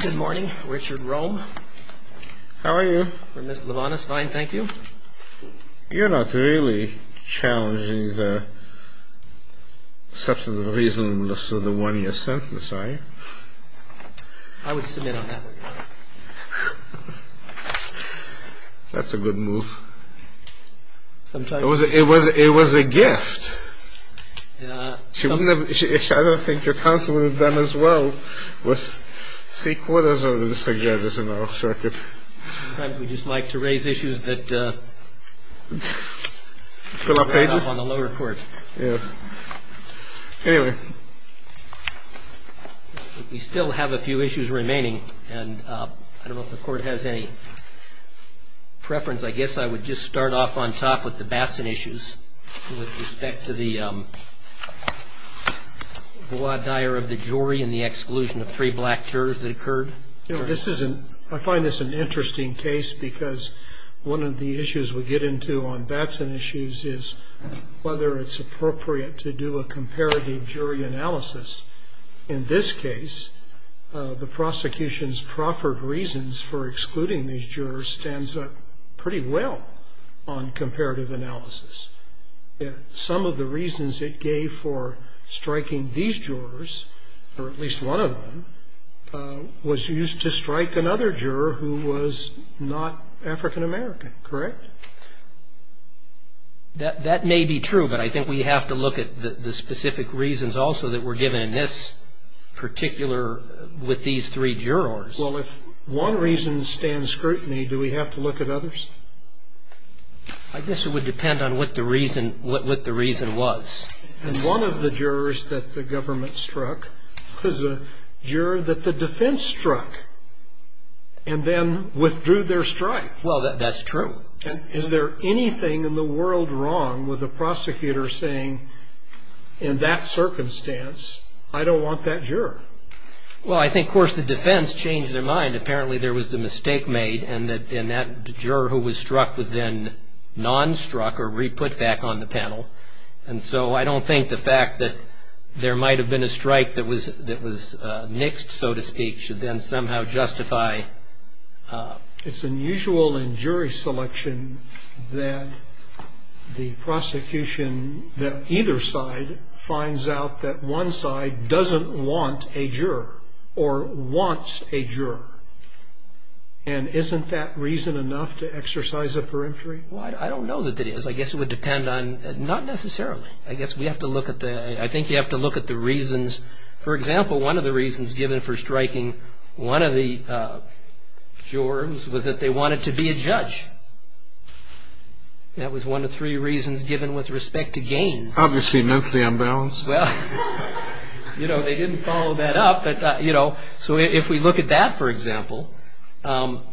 Good morning, Richard Rome. How are you? For Ms. Lievanos, fine, thank you. You're not really challenging the substantive reason for the one-year sentence, are you? I would submit on that. That's a good move. It was a gift. I don't think your counsel would have done as well with three quarters of the district judges in our circuit. Sometimes we just like to raise issues that fill up pages on the lower court. Yes. Anyway, we still have a few issues remaining, and I don't know if the court has any preference. I guess I would just start off on top with the Batson issues with respect to the voir dire of the jury and the exclusion of three black jurors that occurred. I find this an interesting case because one of the issues we get into on Batson issues is whether it's appropriate to do a comparative jury analysis. In this case, the prosecution's proffered reasons for excluding these jurors stands up pretty well on comparative analysis. Some of the reasons it gave for striking these jurors, or at least one of them, was used to strike another juror who was not African-American. Correct? That may be true, but I think we have to look at the specific reasons also that were given in this particular with these three jurors. Well, if one reason stands scrutiny, do we have to look at others? I guess it would depend on what the reason was. And one of the jurors that the government struck was a juror that the defense struck and then withdrew their strike. Well, that's true. And is there anything in the world wrong with a prosecutor saying, in that circumstance, I don't want that juror? Well, I think, of course, the defense changed their mind. Apparently, there was a mistake made, and that juror who was struck was then non-struck or re-put back on the panel. And so I don't think the fact that there might have been a strike that was nixed, so to speak, should then somehow justify. It's unusual in jury selection that the prosecution that either side finds out that one side doesn't want a juror or wants a juror. And isn't that reason enough to exercise a peremptory? Well, I don't know that it is. I guess it would depend on ñ not necessarily. I guess we have to look at the ñ I think you have to look at the reasons. For example, one of the reasons given for striking one of the jurors was that they wanted to be a judge. That was one of three reasons given with respect to gains. Obviously, mentally unbalanced. Well, you know, they didn't follow that up. But, you know, so if we look at that, for example, the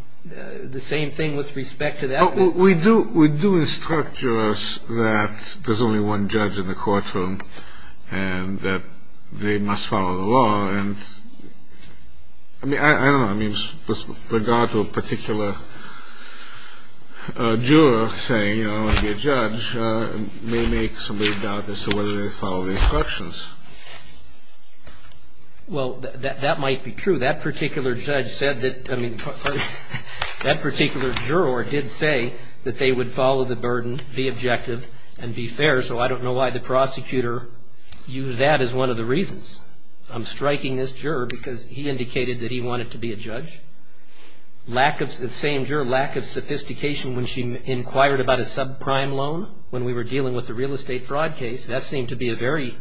same thing with respect to that. Well, we do instruct jurors that there's only one judge in the courtroom and that they must follow the law. And, I mean, I don't know. I mean, with regard to a particular juror saying, you know, I want to be a judge, it may make somebody doubt as to whether they follow the instructions. Well, that might be true. That particular judge said that ñ I mean, that particular juror did say that they would follow the burden, be objective, and be fair, so I don't know why the prosecutor used that as one of the reasons. I'm striking this juror because he indicated that he wanted to be a judge. Lack of ñ the same juror, lack of sophistication when she inquired about a subprime loan when we were dealing with the real estate fraud case, that seemed to be a very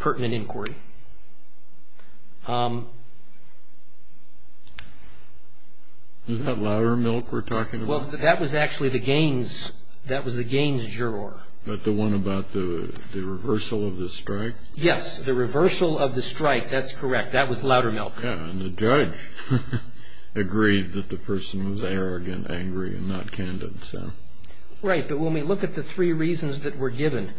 pertinent inquiry. Is that Loudermilk we're talking about? Well, that was actually the Gaines ñ that was the Gaines juror. But the one about the reversal of the strike? Yes, the reversal of the strike. That's correct. That was Loudermilk. And the judge agreed that the person was arrogant, angry, and not candid. Right. But when we look at the three reasons that were given,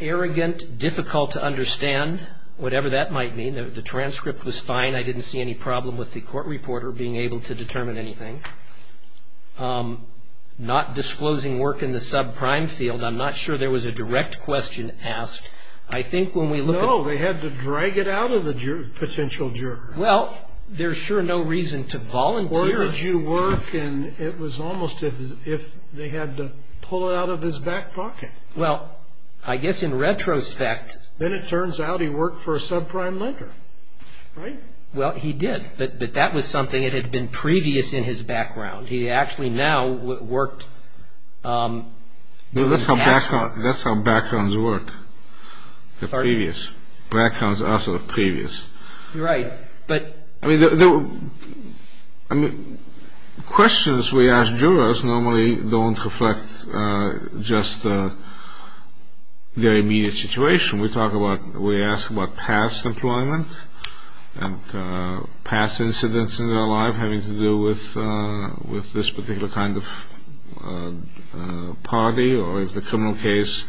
arrogant, difficult to understand, whatever that might mean, the transcript was fine, I didn't see any problem with the court reporter being able to determine anything, not disclosing work in the subprime field, I'm not sure there was a direct question asked. I think when we look at ñ No, they had to drag it out of the potential juror. Well, there's sure no reason to volunteer ñ It was almost as if they had to pull it out of his back pocket. Well, I guess in retrospect ñ Then it turns out he worked for a subprime lender, right? Well, he did, but that was something that had been previous in his background. He actually now worked ñ That's how backgrounds work, the previous. Backgrounds are sort of previous. Right, but ñ I mean, the questions we ask jurors normally don't reflect just their immediate situation. We talk about, we ask about past employment and past incidents in their life having to do with this particular kind of party, or if the criminal case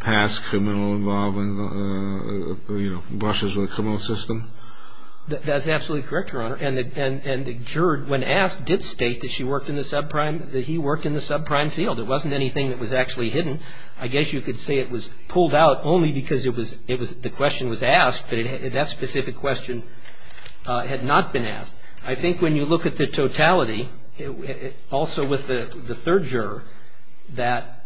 past criminal involvement, you know, brushes with the criminal system. That's absolutely correct, Your Honor. And the juror, when asked, did state that she worked in the subprime ñ that he worked in the subprime field. It wasn't anything that was actually hidden. I guess you could say it was pulled out only because it was ñ the question was asked, but that specific question had not been asked. I think when you look at the totality, also with the third juror, that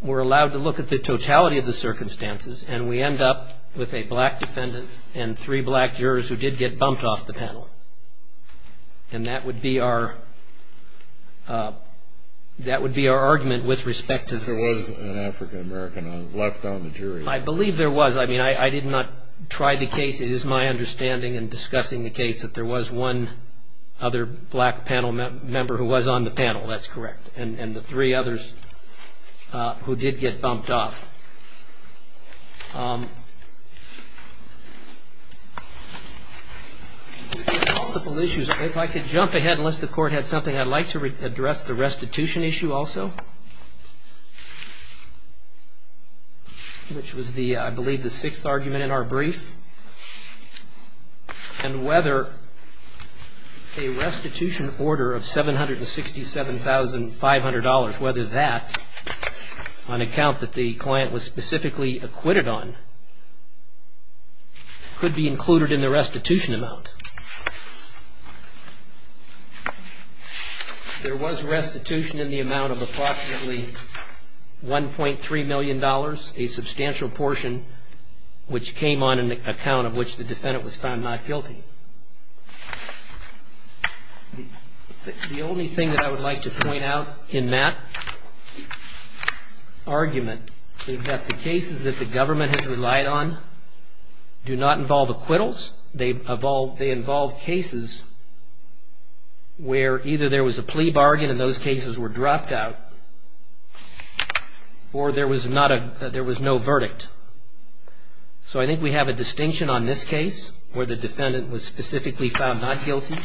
we're allowed to look at the totality of the circumstances and we end up with a black defendant and three black jurors who did get bumped off the panel. And that would be our argument with respect to ñ There was an African-American left on the jury. I believe there was. I mean, I did not try the case. It is my understanding in discussing the case that there was one other black panel member who was on the panel. That's correct. And the three others who did get bumped off. Multiple issues. If I could jump ahead, unless the Court had something, I'd like to address the restitution issue also, which was the ñ I believe the sixth argument in our brief. And whether a restitution order of $767,500, whether that, on account that the client was specifically acquitted on, could be included in the restitution amount. There was restitution in the amount of approximately $1.3 million, a substantial portion which came on an account of which the defendant was found not guilty. The only thing that I would like to point out in that argument is that the cases that the government has relied on do not involve acquittals. They involve cases where either there was a plea bargain and those cases were dropped out, or there was no verdict. So I think we have a distinction on this case, where the defendant was specifically found not guilty,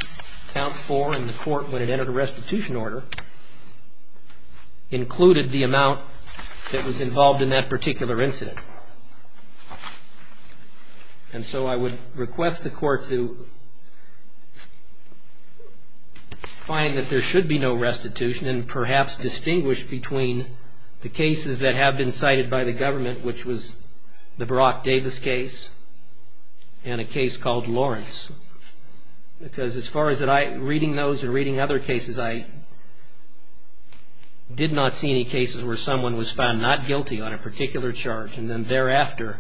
count four in the Court when it entered a restitution order, included the amount that was involved in that particular incident. And so I would request the Court to find that there should be no restitution and perhaps distinguish between the cases that have been cited by the government, which was the Barack Davis case and a case called Lawrence. Because as far as reading those and reading other cases, I did not see any cases where someone was found not guilty on a particular charge and then thereafter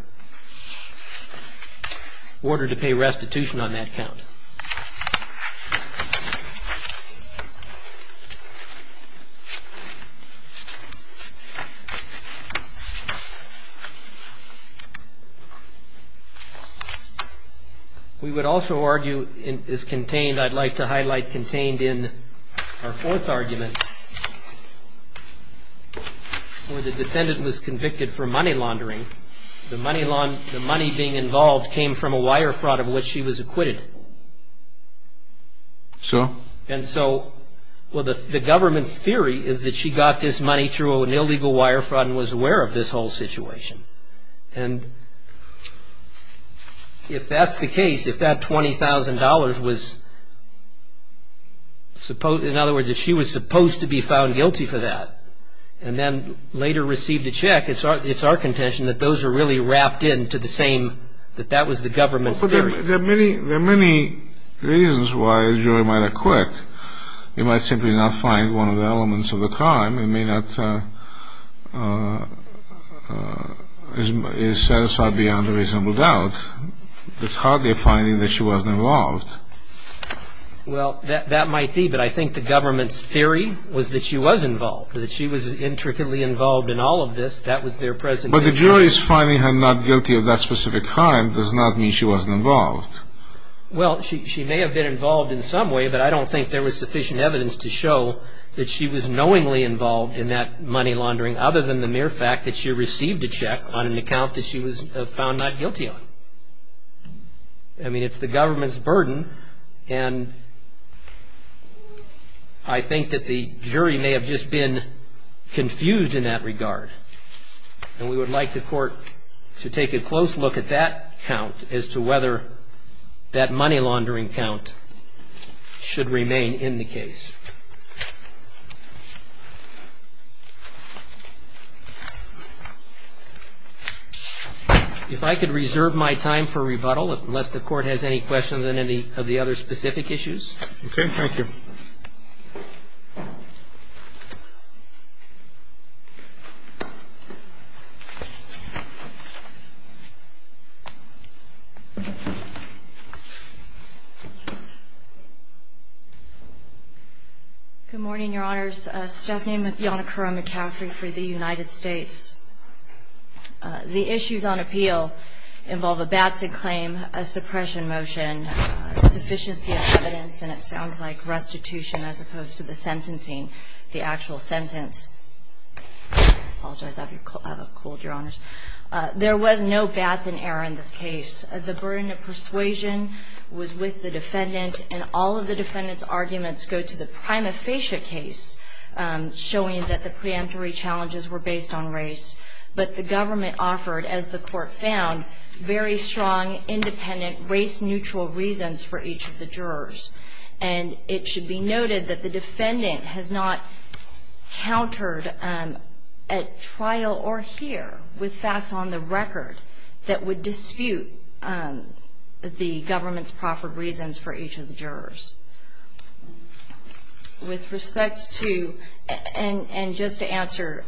ordered to pay restitution on that count. We would also argue it is contained, I'd like to highlight contained in our fourth argument, where the defendant was convicted for money laundering. The money being involved came from a wire fraud of which she was acquitted. So? My theory is that she got this money through an illegal wire fraud and was aware of this whole situation. And if that's the case, if that $20,000 was, in other words, if she was supposed to be found guilty for that and then later received a check, it's our contention that those are really wrapped into the same, that that was the government's theory. There are many reasons why a jury might acquit. You might simply not find one of the elements of the crime. It may not be satisfied beyond a reasonable doubt. It's hardly a finding that she wasn't involved. Well, that might be. But I think the government's theory was that she was involved, that she was intricately involved in all of this. That was their presentation. But the jury's finding her not guilty of that specific crime does not mean she wasn't involved. Well, she may have been involved in some way, but I don't think there was sufficient evidence to show that she was knowingly involved in that money laundering other than the mere fact that she received a check on an account that she was found not guilty on. I mean, it's the government's burden, and I think that the jury may have just been confused in that regard. And we would like the court to take a close look at that count as to whether that money laundering count should remain in the case. If I could reserve my time for rebuttal, unless the court has any questions on any of the other specific issues. Okay. Thank you. Good morning, Your Honors. Stephanie McYonakura McCaffrey for the United States. The issues on appeal involve a Batson claim, a suppression motion, sufficiency of evidence, and it sounds like restitution as opposed to the sentencing, the actual sentence. I apologize. I have a cold, Your Honors. There was no Batson error in this case. The burden of persuasion was with the defendant, and all of the defendant's arguments go to the prima facie case, showing that the preemptory challenges were based on race. But the government offered, as the court found, very strong, independent, race-neutral reasons for each of the jurors. And it should be noted that the defendant has not countered at trial or here with facts on the record that would dispute the government's proffered reasons for each of the jurors. With respect to, and just to answer,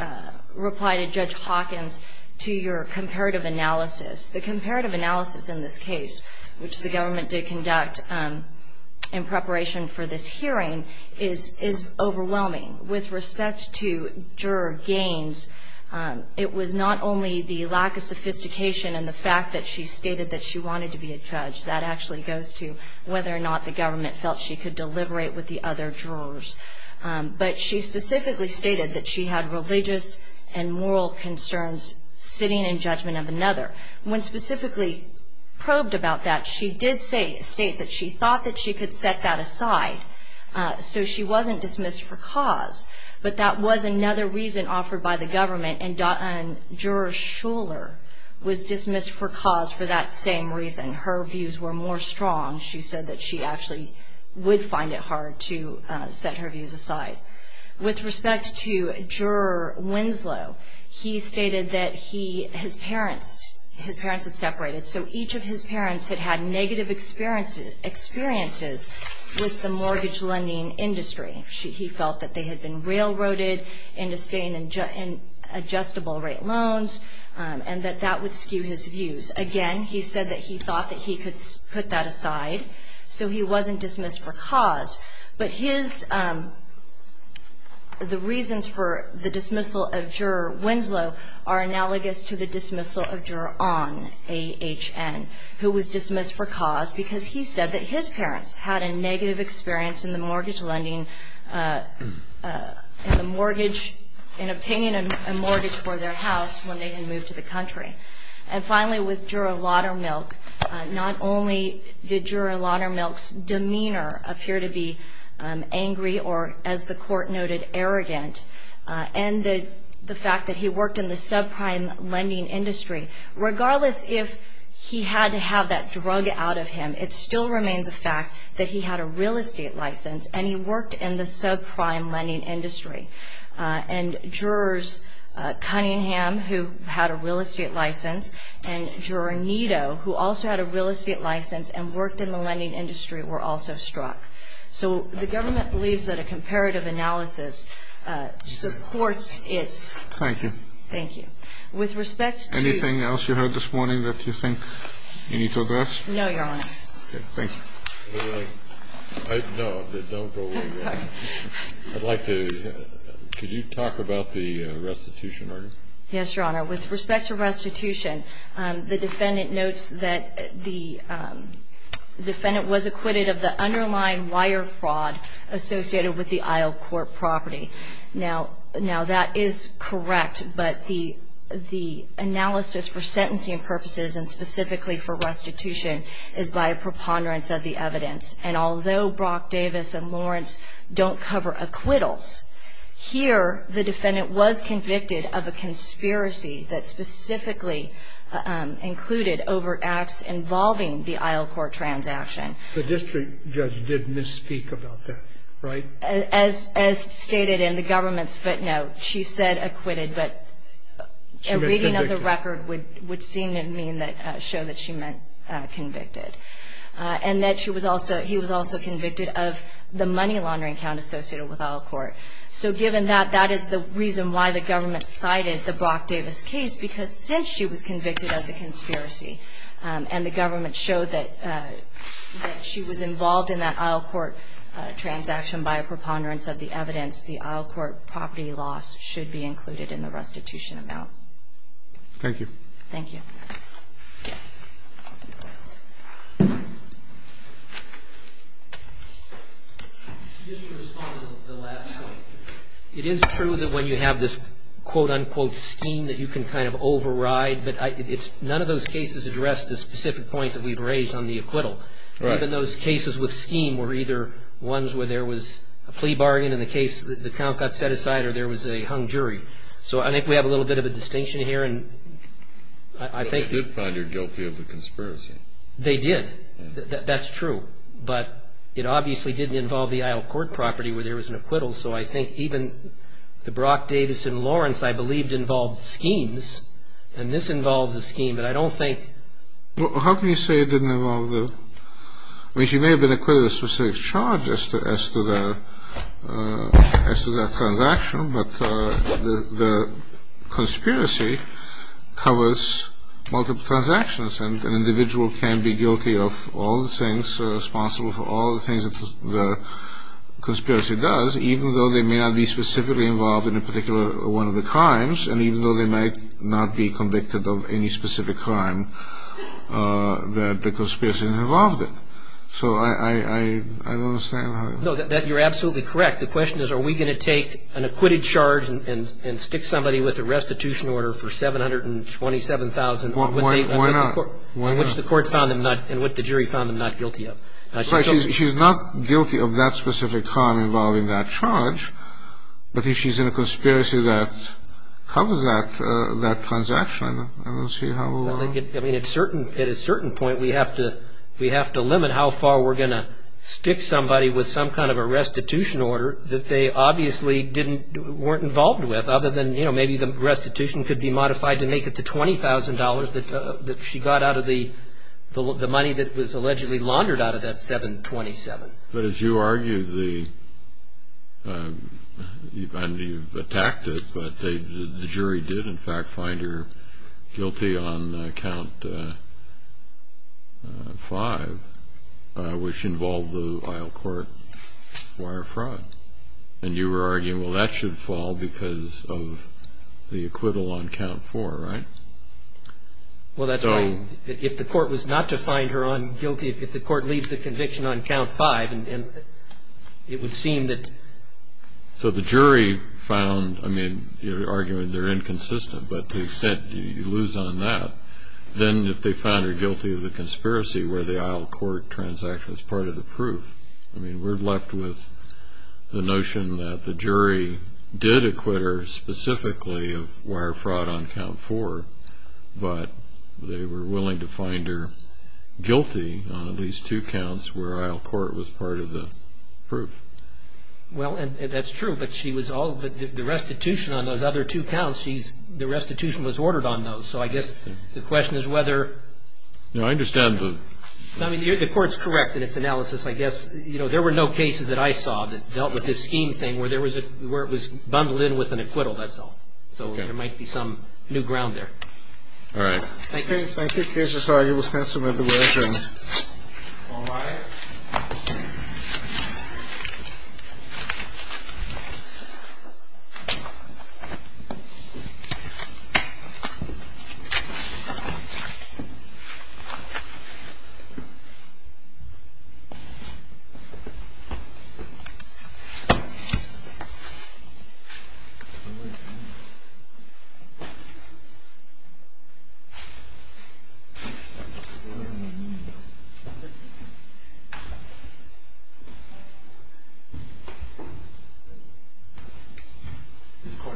reply to Judge Hawkins to your comparative analysis, the comparative analysis in this case, which the government did conduct in preparation for this hearing, is overwhelming. With respect to juror gains, it was not only the lack of sophistication and the fact that she stated that she wanted to be a judge. That actually goes to whether or not the government felt she could deliberate with the other jurors. But she specifically stated that she had religious and moral concerns sitting in judgment of another. When specifically probed about that, she did state that she thought that she could set that aside so she wasn't dismissed for cause. But that was another reason offered by the government, and juror Shuler was dismissed for cause for that same reason. Her views were more strong. She said that she actually would find it hard to set her views aside. With respect to juror Winslow, he stated that his parents had separated, so each of his parents had had negative experiences with the mortgage lending industry. He felt that they had been railroaded into staying in adjustable rate loans and that that would skew his views. Again, he said that he thought that he could put that aside so he wasn't dismissed for cause. But the reasons for the dismissal of juror Winslow are analogous to the dismissal of juror Ahn, A-H-N, who was dismissed for cause because he said that his parents had a negative experience in the mortgage lending, in obtaining a mortgage for their house when they had moved to the country. And finally, with juror Laudermilk, not only did juror Laudermilk's demeanor appear to be angry or, as the Court noted, arrogant, and the fact that he worked in the subprime lending industry, regardless if he had to have that drug out of him, it still remains a fact that he had a real estate license and he worked in the subprime lending industry. And jurors Cunningham, who had a real estate license, and juror Nito, who also had a real estate license and worked in the lending industry, were also struck. So the government believes that a comparative analysis supports its ---- Thank you. Thank you. With respect to ---- Anything else you heard this morning that you think you need to address? No, Your Honor. Okay. Thank you. No, don't go away. I'm sorry. I'd like to ---- Could you talk about the restitution argument? Yes, Your Honor. With respect to restitution, the defendant notes that the defendant was acquitted of the underlying wire fraud associated with the Isle Court property. Now, that is correct, but the analysis for sentencing purposes and specifically for restitution is by a preponderance of the evidence. And although Brock Davis and Lawrence don't cover acquittals, here the defendant was convicted of a conspiracy that specifically included over acts involving the Isle Court transaction. The district judge did misspeak about that, right? As stated in the government's footnote, she said acquitted, but a reading of the record would seem to show that she meant convicted. And that he was also convicted of the money laundering count associated with Isle Court. So given that, that is the reason why the government cited the Brock Davis case, because since she was convicted of the conspiracy and the government showed that she was involved in that Isle Court transaction by a preponderance of the evidence, the Isle Court property loss should be included in the restitution amount. Thank you. Thank you. Thank you. Just to respond to the last point, it is true that when you have this quote-unquote scheme that you can kind of override, but none of those cases address the specific point that we've raised on the acquittal. Right. Even those cases with scheme were either ones where there was a plea bargain and the count got set aside or there was a hung jury. So I think we have a little bit of a distinction here, and I think... But they did find her guilty of the conspiracy. They did. That's true. But it obviously didn't involve the Isle Court property where there was an acquittal, so I think even the Brock Davis and Lawrence I believed involved schemes, and this involves a scheme, but I don't think... How can you say it didn't involve the... I mean, she may have been acquitted of a specific charge as to that transaction, but the conspiracy covers multiple transactions, and an individual can be guilty of all the things, responsible for all the things that the conspiracy does, even though they may not be specifically involved in a particular one of the crimes, and even though they may not be convicted of any specific crime that the conspiracy involved in. So I don't understand how... No, you're absolutely correct. In fact, the question is are we going to take an acquitted charge and stick somebody with a restitution order for $727,000... Why not? ...which the court found them not, and which the jury found them not guilty of? She's not guilty of that specific crime involving that charge, but if she's in a conspiracy that covers that transaction, I don't see how we'll... I mean, at a certain point, we have to limit how far we're going to stick somebody with some kind of a restitution order that they obviously weren't involved with, other than maybe the restitution could be modified to make it the $20,000 that she got out of the money that was allegedly laundered out of that $727,000. But as you argue, and you've attacked it, but the jury did, in fact, find her guilty on Count 5, which involved the Isle Court wire fraud. And you were arguing, well, that should fall because of the acquittal on Count 4, right? Well, that's right. If the court was not to find her guilty, if the court leaves the conviction on Count 5, it would seem that... So the jury found, I mean, you're arguing they're inconsistent, but to the extent you lose on that, then if they found her guilty of the conspiracy where the Isle Court transaction was part of the proof, I mean, we're left with the notion that the jury did acquit her specifically of wire fraud on Count 4, but they were willing to find her guilty on at least two counts where Isle Court was part of the proof. Well, and that's true, but she was all the restitution on those other two counts, she's the restitution was ordered on those. So I guess the question is whether... No, I understand the... I mean, the Court's correct in its analysis, I guess. You know, there were no cases that I saw that dealt with this scheme thing where there was a, where it was bundled in with an acquittal, that's all. Okay. So there might be some new ground there. All right. Thank you. Thank you. The case is argued with pencil. All rise. Thank you. This court is adjourned.